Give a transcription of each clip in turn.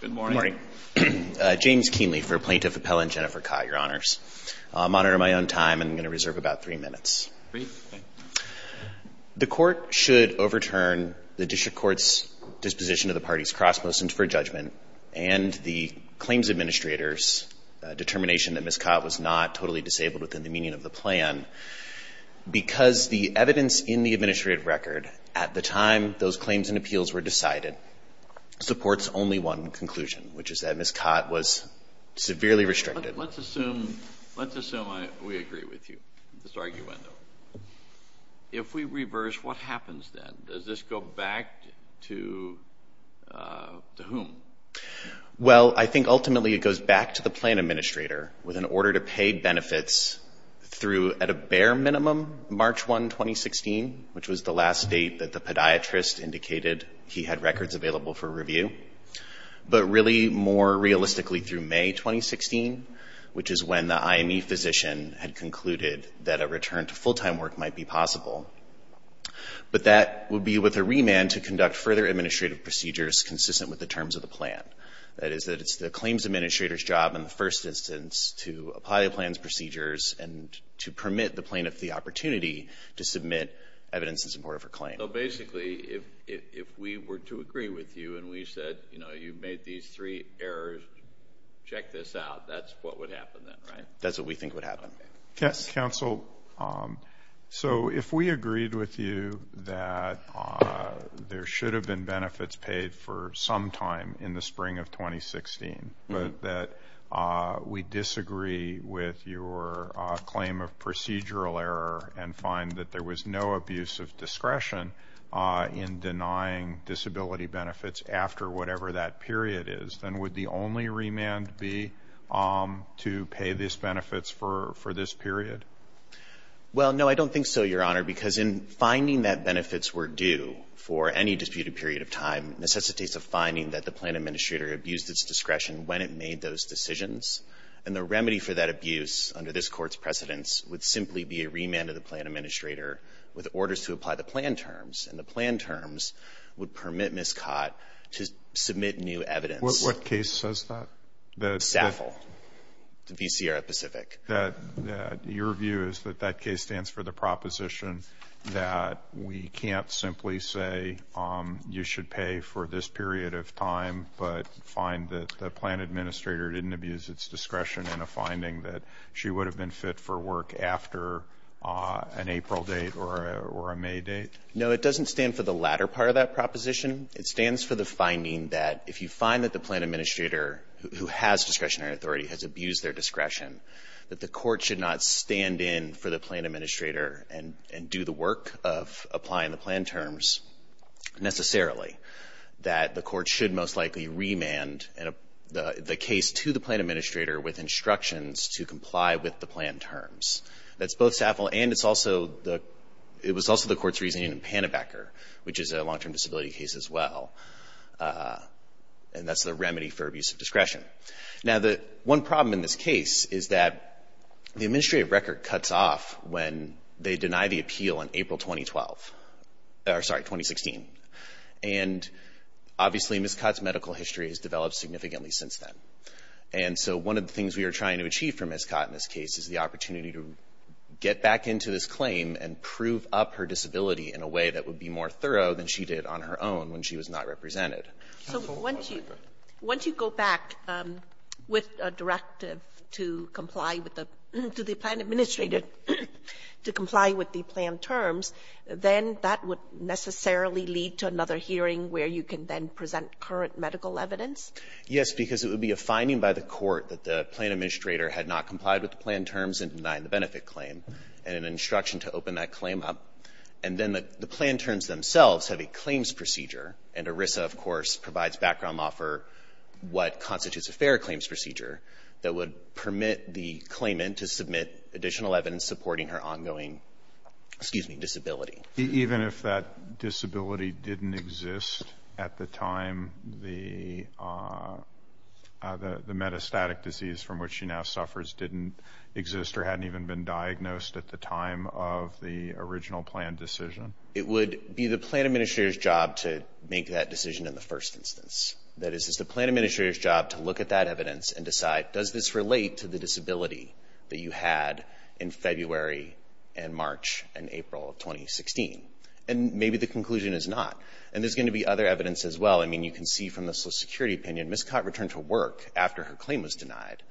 Good morning. Good morning. James Kienle for Plaintiff Appellant Jennifer Kott, Your Honors. I'll monitor my own time and I'm going to reserve about three minutes. Great. The court should overturn the district court's disposition of the party's cross motion for judgment and the claims administrator's determination that Ms. Kott was not totally disabled within the meaning of the plan because the evidence in the administrative record at the time those claims and appeals were decided supports only one conclusion, which is that Ms. Kott was severely restricted. Let's assume we agree with you on this argument. If we reverse, what happens then? Does this go back to whom? Well, I think ultimately it goes back to the plan administrator with an order to pay benefits through, at a bare minimum, March 1, 2016, which was the last date that the podiatrist indicated he had records available for review, but really more realistically through May 2016, which is when the IME physician had concluded that a return to full-time work might be possible. But that would be with a remand to conduct further administrative procedures consistent with the terms of the plan. That is that it's the claims administrator's job in the first instance to apply the plan's procedures and to permit the plaintiff the opportunity to submit evidence in support of her claim. So basically, if we were to agree with you and we said, you know, you made these three errors, check this out, that's what would happen then, right? That's what we think would happen. Counsel, so if we agreed with you that there should have been benefits paid for some time in the spring of 2016, but that we disagree with your claim of procedural error and find that there was no abuse of discretion in denying disability benefits after whatever that period is, then would the only remand be to pay these benefits for this period? Well, no, I don't think so, Your Honor, because in finding that benefits were due for any disputed period of time necessitates a finding that the plan administrator abused its discretion when it made those decisions, and the remedy for that abuse under this Court's precedence would simply be a remand to the plan administrator with orders to apply the plan terms, and the plan terms would permit Ms. Cott to submit new evidence. What case says that? SAFL, the VCR at Pacific. Your view is that that case stands for the proposition that we can't simply say you should pay for this period of time but find that the plan administrator didn't abuse its discretion in a finding that she would have been fit for work after an April date or a May date? No, it doesn't stand for the latter part of that proposition. It stands for the finding that if you find that the plan administrator who has discretionary authority has abused their discretion, that the court should not stand in for the plan administrator and do the work of applying the plan terms necessarily, that the court should most likely remand the case to the plan administrator with instructions to comply with the plan terms. That's both SAFL and it was also the Court's reasoning in Pannebecker, which is a long-term disability case as well, and that's the remedy for abuse of discretion. Now, one problem in this case is that the administrative record cuts off when they deny the appeal in April 2016. And obviously, Ms. Cott's medical history has developed significantly since then. And so one of the things we are trying to achieve for Ms. Cott in this case is the opportunity to get back into this claim and prove up her disability in a way that would be more thorough than she did on her own when she was not represented. Kagan. So once you go back with a directive to comply with the plan administrator to comply with the plan terms, then that would necessarily lead to another hearing where you can then present current medical evidence? Yes, because it would be a finding by the court that the plan administrator had not complied with the plan terms and denied the benefit claim, and an instruction to open that claim up. And then the plan terms themselves have a claims procedure, and ERISA, of course, provides background law for what constitutes a fair claims procedure that would permit the claimant to submit additional evidence supporting her ongoing disability. Even if that disability didn't exist at the time the metastatic disease from which she now suffers didn't exist or hadn't even been diagnosed at the time of the original plan decision? It would be the plan administrator's job to make that decision in the first instance. That is, it's the plan administrator's job to look at that evidence and decide, does this relate to the disability that you had in February and March and April of 2016? And maybe the conclusion is not. And there's going to be other evidence as well. I mean, you can see from the Social Security opinion, Ms. Cott returned to work after her claim was denied,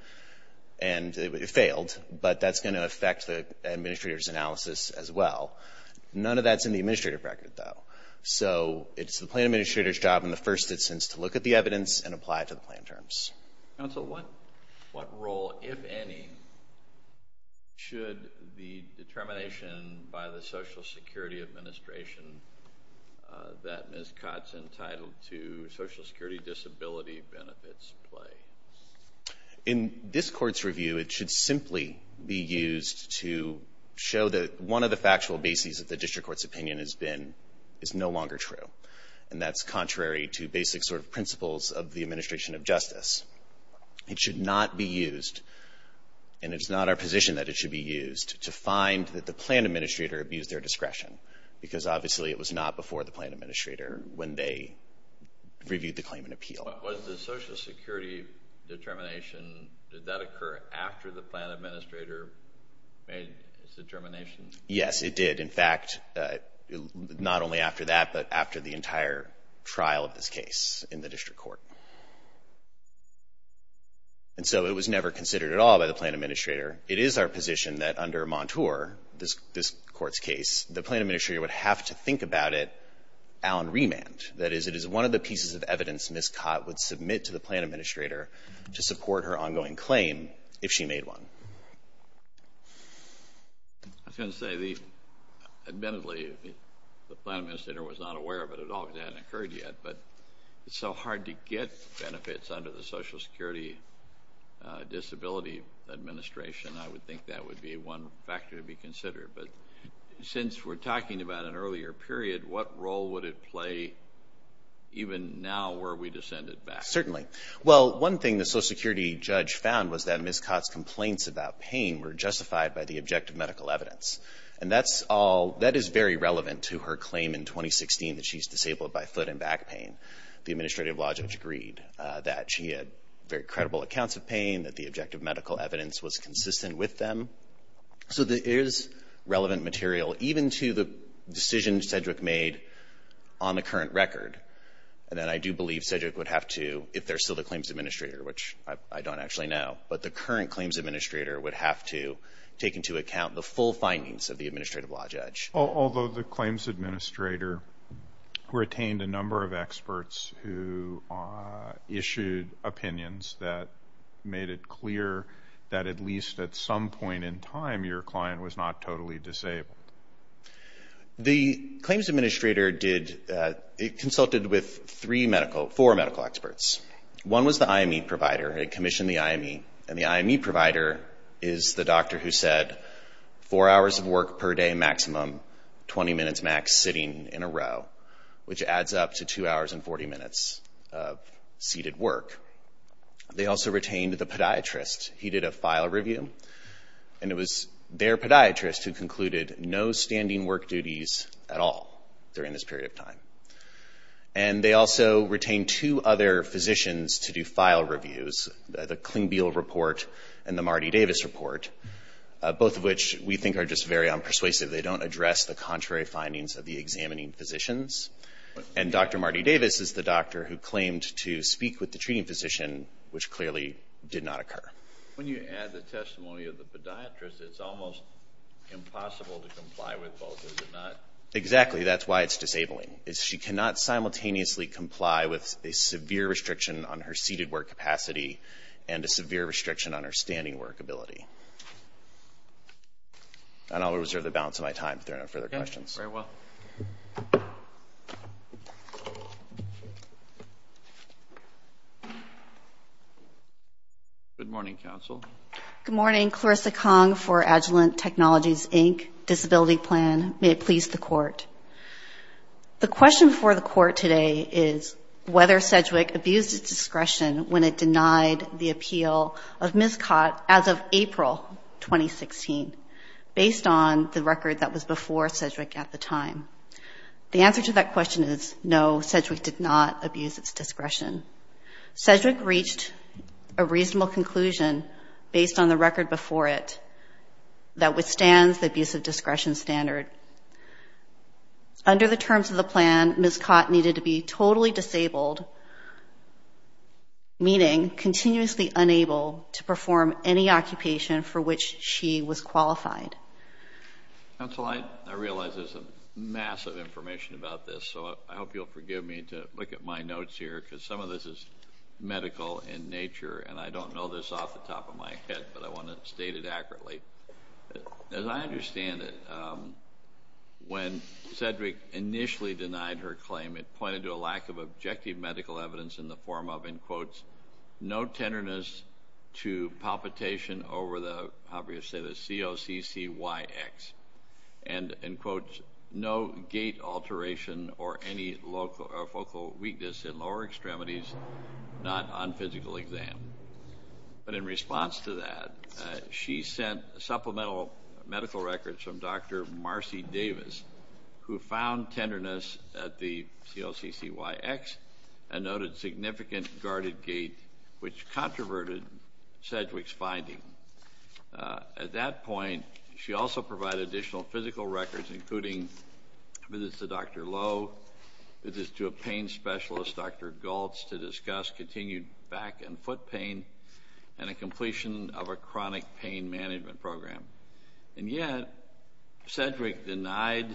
and it failed, but that's going to affect the administrator's analysis as well. None of that's in the administrative record, though. So it's the plan administrator's job in the first instance to look at the evidence and apply it to the plan terms. Counsel, what role, if any, should the determination by the Social Security Administration that Ms. Cott's entitled to Social Security disability benefits play? In this court's review, it should simply be used to show that one of the factual bases of the district court's opinion is no longer true, and that's contrary to basic sort of principles of the administration of justice. It should not be used, and it's not our position that it should be used, to find that the plan administrator abused their discretion, because obviously it was not before the plan administrator, when they reviewed the claim and appeal. Was the Social Security determination, did that occur after the plan administrator made its determination? Yes, it did. In fact, not only after that, but after the entire trial of this case in the district court. And so it was never considered at all by the plan administrator. It is our position that under Montour, this court's case, the plan administrator would have to think about it on remand. That is, it is one of the pieces of evidence Ms. Cott would submit to the plan administrator to support her ongoing claim, if she made one. I was going to say, admittedly, the plan administrator was not aware of it at all. It hadn't occurred yet, but it's so hard to get benefits under the Social Security Disability Administration. I would think that would be one factor to be considered. But since we're talking about an earlier period, what role would it play even now, were we to send it back? Certainly. Well, one thing the Social Security judge found was that Ms. Cott's complaints about pain were justified by the objective medical evidence. And that is very relevant to her claim in 2016 that she's disabled by foot and back pain. The administrative law judge agreed that she had very credible accounts of pain, that the objective medical evidence was consistent with them. So there is relevant material, even to the decision Cedric made on the current record. And then I do believe Cedric would have to, if there's still the claims administrator, which I don't actually know, but the current claims administrator would have to take into account the full findings of the administrative law judge. Although the claims administrator retained a number of experts who issued opinions that made it clear that at least at some point in time your client was not totally disabled. The claims administrator consulted with four medical experts. One was the IME provider. He commissioned the IME. And the IME provider is the doctor who said four hours of work per day maximum, 20 minutes max sitting in a row, which adds up to two hours and 40 minutes of seated work. They also retained the podiatrist. He did a file review. And it was their podiatrist who concluded no standing work duties at all during this period of time. And they also retained two other physicians to do file reviews, the Klingbeil report and the Marty Davis report, both of which we think are just very unpersuasive. They don't address the contrary findings of the examining physicians. And Dr. Marty Davis is the doctor who claimed to speak with the treating physician, which clearly did not occur. When you add the testimony of the podiatrist, it's almost impossible to comply with both, is it not? Exactly. That's why it's disabling. She cannot simultaneously comply with a severe restriction on her seated work capacity and a severe restriction on her standing work ability. And I'll reserve the balance of my time if there are no further questions. Okay. Very well. Good morning, counsel. Good morning. Clarissa Kong for Agilent Technologies, Inc., Disability Plan. May it please the Court. The question for the Court today is whether Sedgwick abused its discretion when it denied the appeal of Ms. Cott as of April 2016, based on the record that was before Sedgwick at the time. The answer to that question is no, Sedgwick did not abuse its discretion. Sedgwick reached a reasonable conclusion based on the record before it that withstands the abuse of discretion standard. Under the terms of the plan, Ms. Cott needed to be totally disabled, meaning continuously unable to perform any occupation for which she was qualified. Counsel, I realize there's a mass of information about this, so I hope you'll forgive me to look at my notes here because some of this is medical in nature, and I don't know this off the top of my head, but I want to state it accurately. As I understand it, when Sedgwick initially denied her claim, it pointed to a lack of objective medical evidence in the form of, in quotes, no tenderness to palpitation over the COCCYX, and, in quotes, no gait alteration or any focal weakness in lower extremities, not on physical exam. But in response to that, she sent supplemental medical records from Dr. Marcy Davis, who found tenderness at the COCCYX and noted significant guarded gait, which controverted Sedgwick's finding. At that point, she also provided additional physical records, including visits to Dr. Lowe, visits to a pain specialist, Dr. Galtz, to discuss continued back and foot pain, and a completion of a chronic pain management program. And yet Sedgwick denied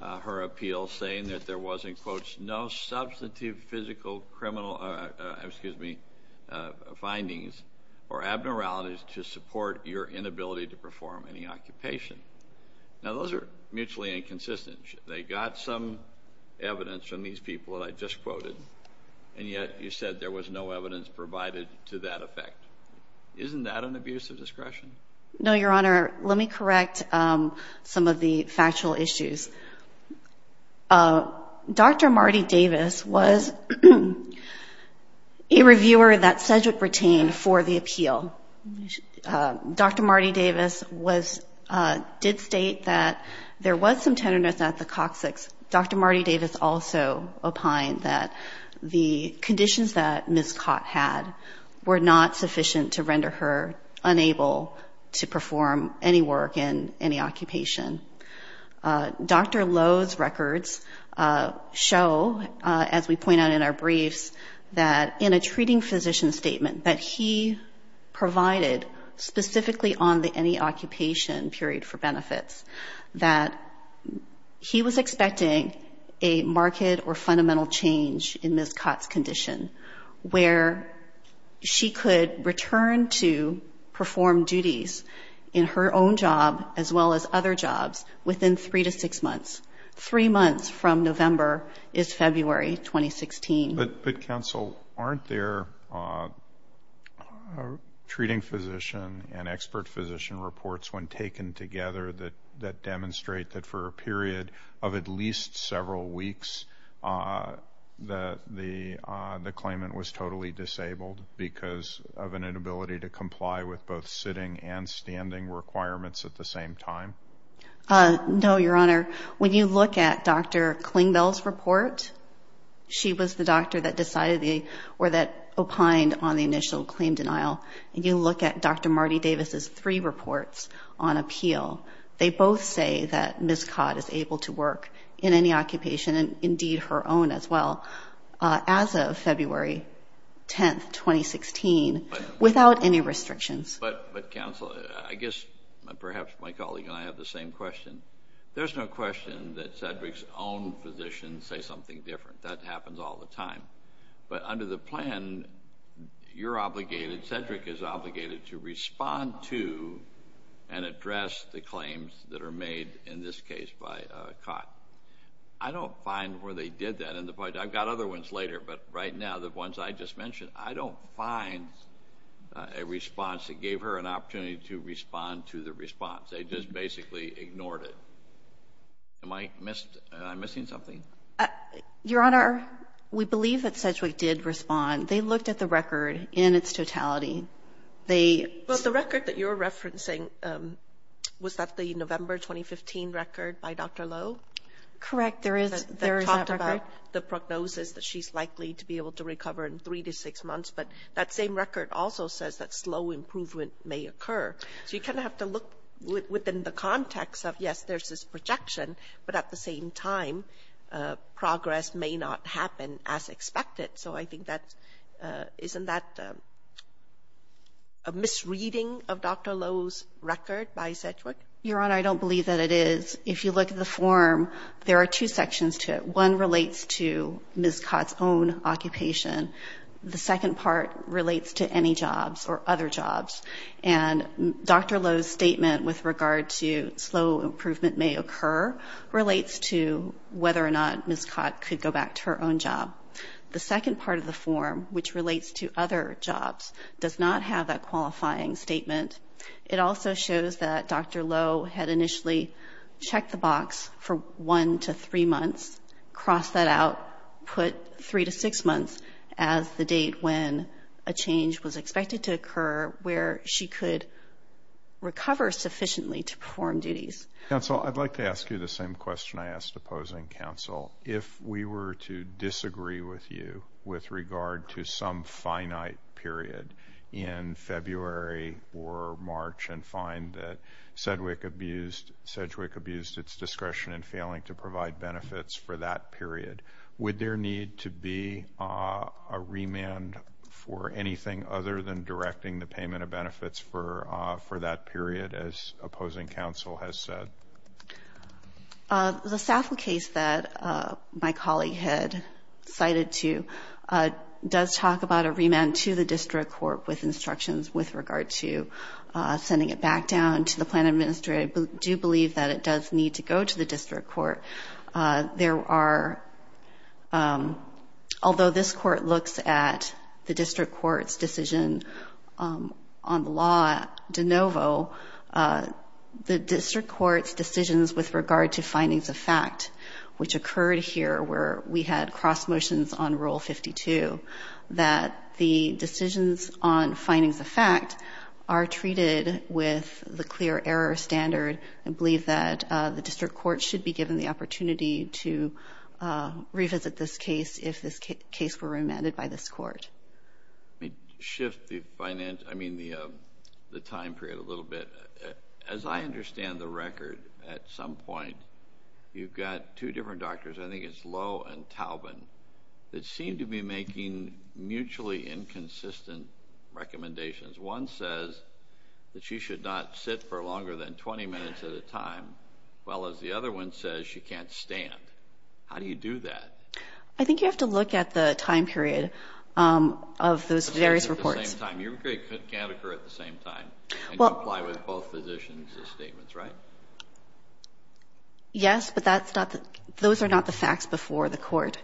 her appeal, saying that there was, in quotes, no substantive physical findings or abnormalities to support your inability to perform any occupation. Now, those are mutually inconsistent. They got some evidence from these people that I just quoted, and yet you said there was no evidence provided to that effect. Isn't that an abuse of discretion? No, Your Honor. Let me correct some of the factual issues. Dr. Marty Davis was a reviewer that Sedgwick retained for the appeal. Dr. Marty Davis did state that there was some tenderness at the COCCYX. Dr. Marty Davis also opined that the conditions that Ms. Cott had were not sufficient to render her unable to perform any work in any occupation. Dr. Lowe's records show, as we point out in our briefs, that in a treating physician statement, that he provided specifically on the any occupation period for benefits, that he was expecting a marked or fundamental change in Ms. Cott's condition, where she could return to perform duties in her own job, as well as other jobs, within three to six months. Three months from November is February 2016. But, counsel, aren't there treating physician and expert physician reports when taken together that demonstrate that for a period of at least several weeks the claimant was totally disabled because of an inability to comply with both sitting and standing requirements at the same time? No, Your Honor. When you look at Dr. Klingbell's report, she was the doctor that decided or that opined on the initial claim denial. And you look at Dr. Marty Davis's three reports on appeal, they both say that Ms. Cott is able to work in any occupation, and indeed her own as well, as of February 10, 2016, without any restrictions. But, counsel, I guess perhaps my colleague and I have the same question. There's no question that Cedric's own physicians say something different. That happens all the time. But under the plan, you're obligated, Cedric is obligated, to respond to and address the claims that are made, in this case, by Cott. I don't find where they did that. I've got other ones later, but right now the ones I just mentioned, I don't find a response that gave her an opportunity to respond to the response. They just basically ignored it. Am I missing something? Your Honor, we believe that Cedric did respond. They looked at the record in its totality. Well, the record that you're referencing, was that the November 2015 record by Dr. Lowe? Correct, there is that record. They talked about the prognosis that she's likely to be able to recover in three to six months, but that same record also says that slow improvement may occur. So you kind of have to look within the context of, yes, there's this projection, but at the same time, progress may not happen as expected. So I think that isn't that a misreading of Dr. Lowe's record by Cedric? Your Honor, I don't believe that it is. If you look at the form, there are two sections to it. One relates to Ms. Cott's own occupation. The second part relates to any jobs or other jobs. And Dr. Lowe's statement with regard to slow improvement may occur relates to whether or not Ms. Cott could go back to her own job. The second part of the form, which relates to other jobs, does not have that qualifying statement. It also shows that Dr. Lowe had initially checked the box for one to three months, crossed that out, put three to six months as the date when a change was expected to occur where she could recover sufficiently to perform duties. Counsel, I'd like to ask you the same question I asked opposing counsel. If we were to disagree with you with regard to some finite period in February or March and find that Cedric abused its discretion in failing to provide benefits for that period, would there need to be a remand for anything other than directing the payment of benefits for that period, as opposing counsel has said? The SAFL case that my colleague had cited to does talk about a remand to the district court with instructions with regard to sending it back down to the plan administrator. I do believe that it does need to go to the district court. Although this court looks at the district court's decision on the law de novo, the district court's decisions with regard to findings of fact, which occurred here, where we had cross motions on Rule 52, that the decisions on findings of fact are treated with the clear error standard. I believe that the district court should be given the opportunity to revisit this case if this case were remanded by this court. Let me shift the time period a little bit. As I understand the record, at some point you've got two different doctors. I think it's Lowe and Taubin, that seem to be making mutually inconsistent recommendations. One says that she should not sit for longer than 20 minutes at a time, while the other one says she can't stand. How do you do that? I think you have to look at the time period of those various reports. It can't occur at the same time, and you apply with both physicians' statements, right? Yes, but those are not the facts before the court.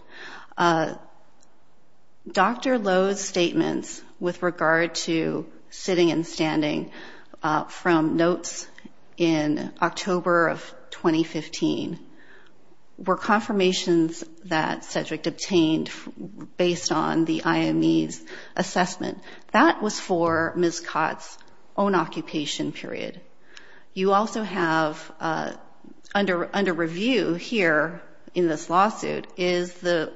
Dr. Lowe's statements with regard to sitting and standing from notes in October of 2015 were confirmations that Cedric obtained based on the IME's assessment. That was for Ms. Cott's own occupation period. You also have under review here in this lawsuit is the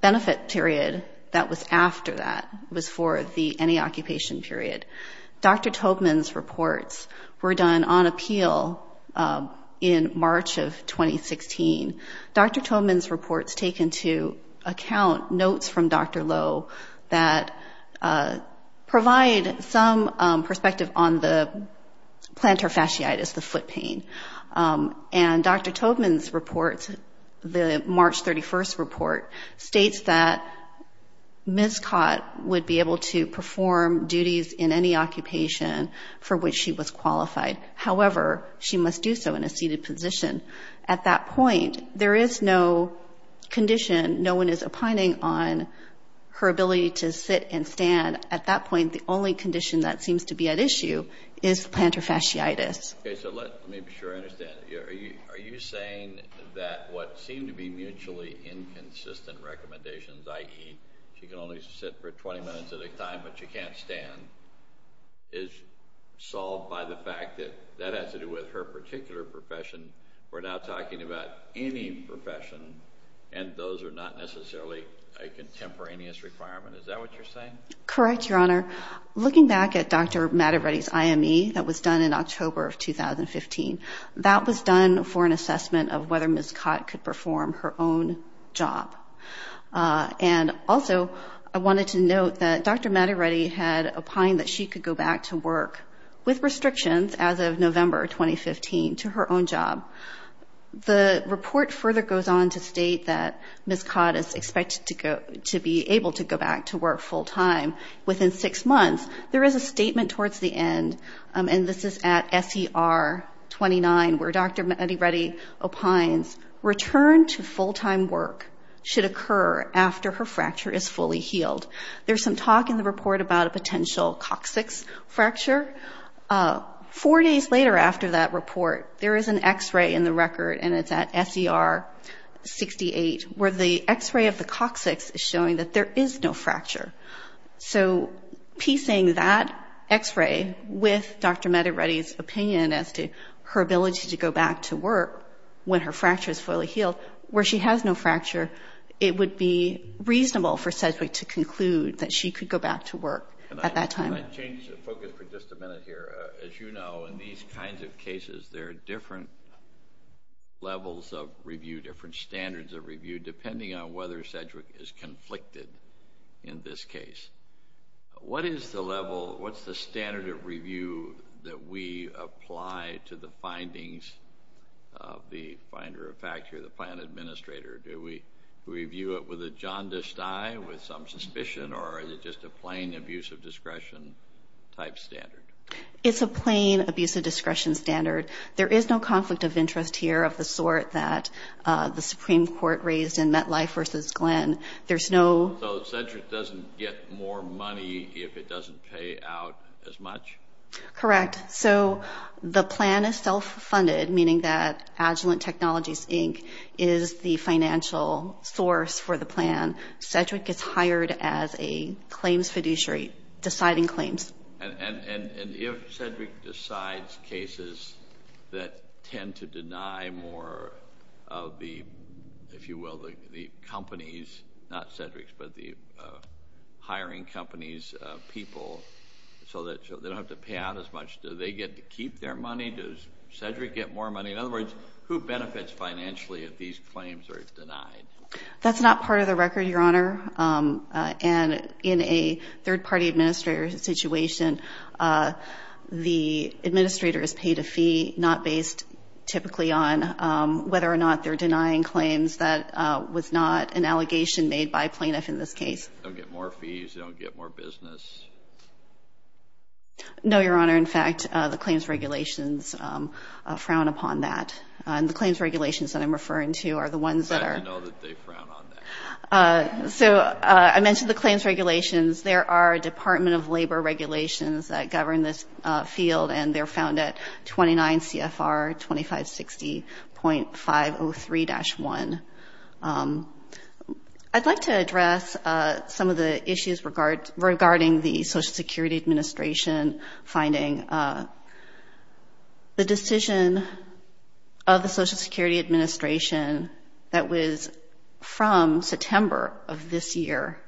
benefit period that was after that. It was for the NE occupation period. Dr. Taubin's reports were done on appeal in March of 2016. Dr. Taubin's reports take into account notes from Dr. Lowe that provide some perspective on the plantar fasciitis, the foot pain. And Dr. Taubin's report, the March 31st report, states that Ms. Cott would be able to perform duties in any occupation for which she was qualified. However, she must do so in a seated position. At that point, there is no condition. No one is opining on her ability to sit and stand. At that point, the only condition that seems to be at issue is plantar fasciitis. Okay, so let me be sure I understand. Are you saying that what seem to be mutually inconsistent recommendations, i.e., she can only sit for 20 minutes at a time but she can't stand, is solved by the fact that that has to do with her particular profession. We're not talking about any profession, and those are not necessarily a contemporaneous requirement. Is that what you're saying? Correct, Your Honor. Looking back at Dr. Matteretti's IME that was done in October of 2015, that was done for an assessment of whether Ms. Cott could perform her own job. And also, I wanted to note that Dr. Matteretti had opined that she could go back to work with restrictions as of November 2015 to her own job. The report further goes on to state that Ms. Cott is expected to be able to go back to work full-time within six months. There is a statement towards the end, and this is at SER 29, where Dr. Matteretti opines return to full-time work should occur after her fracture is fully healed. There's some talk in the report about a potential coccyx fracture. Four days later after that report, there is an X-ray in the record, and it's at SER 68, where the X-ray of the coccyx is showing that there is no fracture. So piecing that X-ray with Dr. Matteretti's opinion as to her ability to go back to work when her fracture is fully healed, where she has no fracture, it would be reasonable for Sedgwick to conclude that she could go back to work at that time. Can I change the focus for just a minute here? As you know, in these kinds of cases, there are different levels of review, different standards of review, depending on whether Sedgwick is conflicted in this case. What is the level, what's the standard of review that we apply to the findings of the finder of fact or the plan administrator? Do we review it with a jaundiced eye, with some suspicion, or is it just a plain abuse of discretion type standard? It's a plain abuse of discretion standard. There is no conflict of interest here of the sort that the Supreme Court raised in MetLife v. Glenn. So Sedgwick doesn't get more money if it doesn't pay out as much? Correct. So the plan is self-funded, meaning that Agilent Technologies Inc. is the financial source for the plan. Sedgwick is hired as a claims fiduciary, deciding claims. And if Sedgwick decides cases that tend to deny more of the, if you will, the companies, not Sedgwick's, but the hiring company's people so that they don't have to pay out as much, do they get to keep their money? Does Sedgwick get more money? In other words, who benefits financially if these claims are denied? That's not part of the record, Your Honor. And in a third-party administrator situation, the administrator is paid a fee not based typically on whether or not they're denying claims. That was not an allegation made by a plaintiff in this case. They don't get more fees? They don't get more business? No, Your Honor. In fact, the claims regulations frown upon that. And the claims regulations that I'm referring to are the ones that are. So I mentioned the claims regulations. There are Department of Labor regulations that govern this field, and they're found at 29 CFR 2560.503-1. I'd like to address some of the issues regarding the Social Security Administration, finding the decision of the Social Security Administration that was from September of this year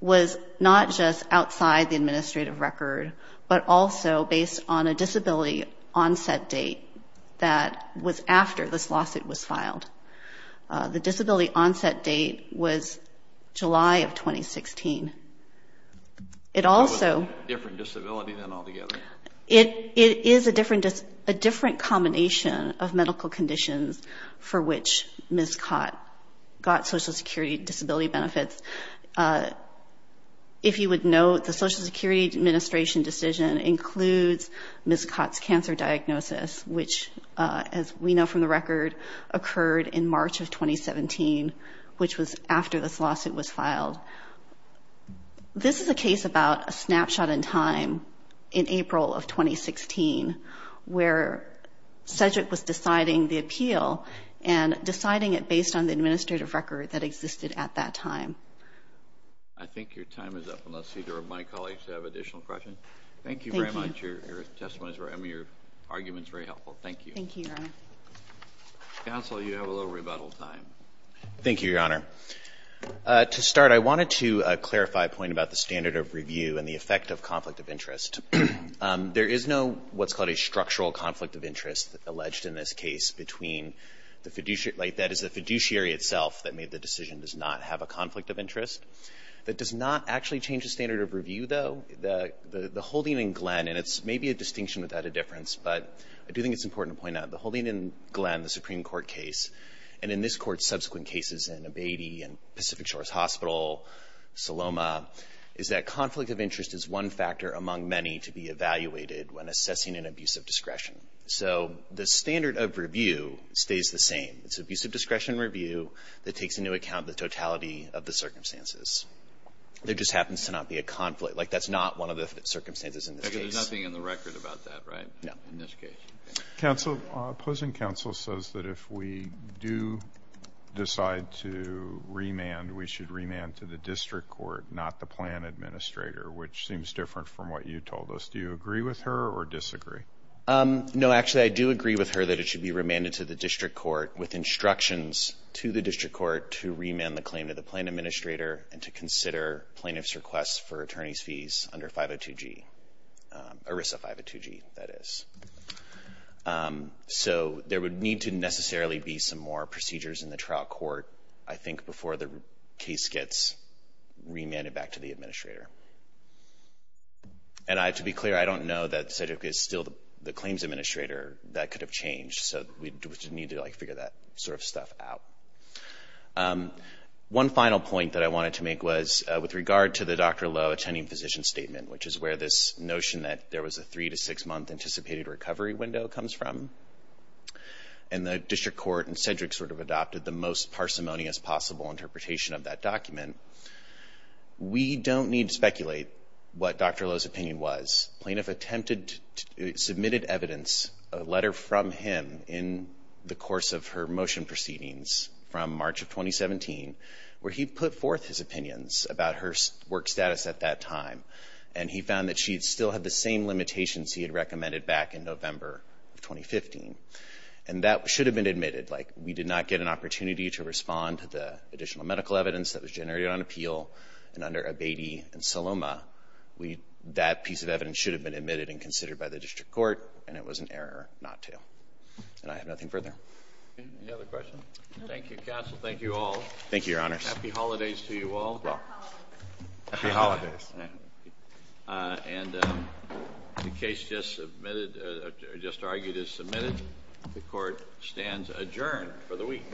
was not just outside the administrative record, but also based on a disability onset date that was after this lawsuit was filed. The disability onset date was July of 2016. It was a different disability than altogether? It is a different combination of medical conditions for which Ms. Cott got Social Security Disability benefits. If you would note, the Social Security Administration decision includes Ms. Cott's cancer diagnosis, which, as we know from the record, occurred in March of 2017, which was after this lawsuit was filed. This is a case about a snapshot in time in April of 2016, where Cedric was deciding the appeal and deciding it based on the administrative record that existed at that time. I think your time is up, unless either of my colleagues have additional questions. Thank you very much. Your testimony is very helpful. I mean, your argument is very helpful. Thank you. Thank you, Your Honor. Counsel, you have a little rebuttal time. Thank you, Your Honor. To start, I wanted to clarify a point about the standard of review and the effect of conflict of interest. There is no what's called a structural conflict of interest alleged in this case between the fiduciary – that is, the fiduciary itself that made the decision does not have a conflict of interest. That does not actually change the standard of review, though. The holding in Glenn – and it's maybe a distinction without a difference, but I do think it's important to point out – the holding in Glenn, the Supreme Court case, and in this Court's subsequent cases in Abatey and Pacific Shores Hospital, Saloma, is that conflict of interest is one factor among many to be evaluated when assessing an abuse of discretion. So the standard of review stays the same. It's abuse of discretion review that takes into account the totality of the circumstances. There just happens to not be a conflict. Like, that's not one of the circumstances in this case. There's nothing in the record about that, right? No. In this case. Counsel, opposing counsel says that if we do decide to remand, we should remand to the district court, not the plan administrator, which seems different from what you told us. Do you agree with her or disagree? No. Actually, I do agree with her that it should be remanded to the district court with instructions to the district court to remand the claim to the plan administrator and to consider plaintiff's request for attorney's fees under 502G, ERISA 502G, that is. So there would need to necessarily be some more procedures in the trial court, I think, before the case gets remanded back to the administrator. And to be clear, I don't know that Cedric is still the claims administrator. That could have changed. So we need to, like, figure that sort of stuff out. One final point that I wanted to make was with regard to the Dr. Lowe attending physician statement, which is where this notion that there was a three- to six-month anticipated recovery window comes from. And the district court and Cedric sort of adopted the most parsimonious possible interpretation of that document. We don't need to speculate what Dr. Lowe's opinion was. Plaintiff attempted to submit evidence, a letter from him, in the course of her motion proceedings from March of 2017, where he put forth his opinions about her work status at that time, and he found that she still had the same limitations he had recommended back in November of 2015. And that should have been admitted. Like, we did not get an opportunity to respond to the additional medical evidence that was generated on appeal. And under Abatey and Saloma, that piece of evidence should have been admitted and considered by the district court, and it was an error not to. And I have nothing further. Any other questions? Thank you, counsel. Thank you all. Thank you, Your Honors. Happy holidays to you all. Happy holidays. Happy holidays. And the case just argued is submitted. The court stands adjourned for the week.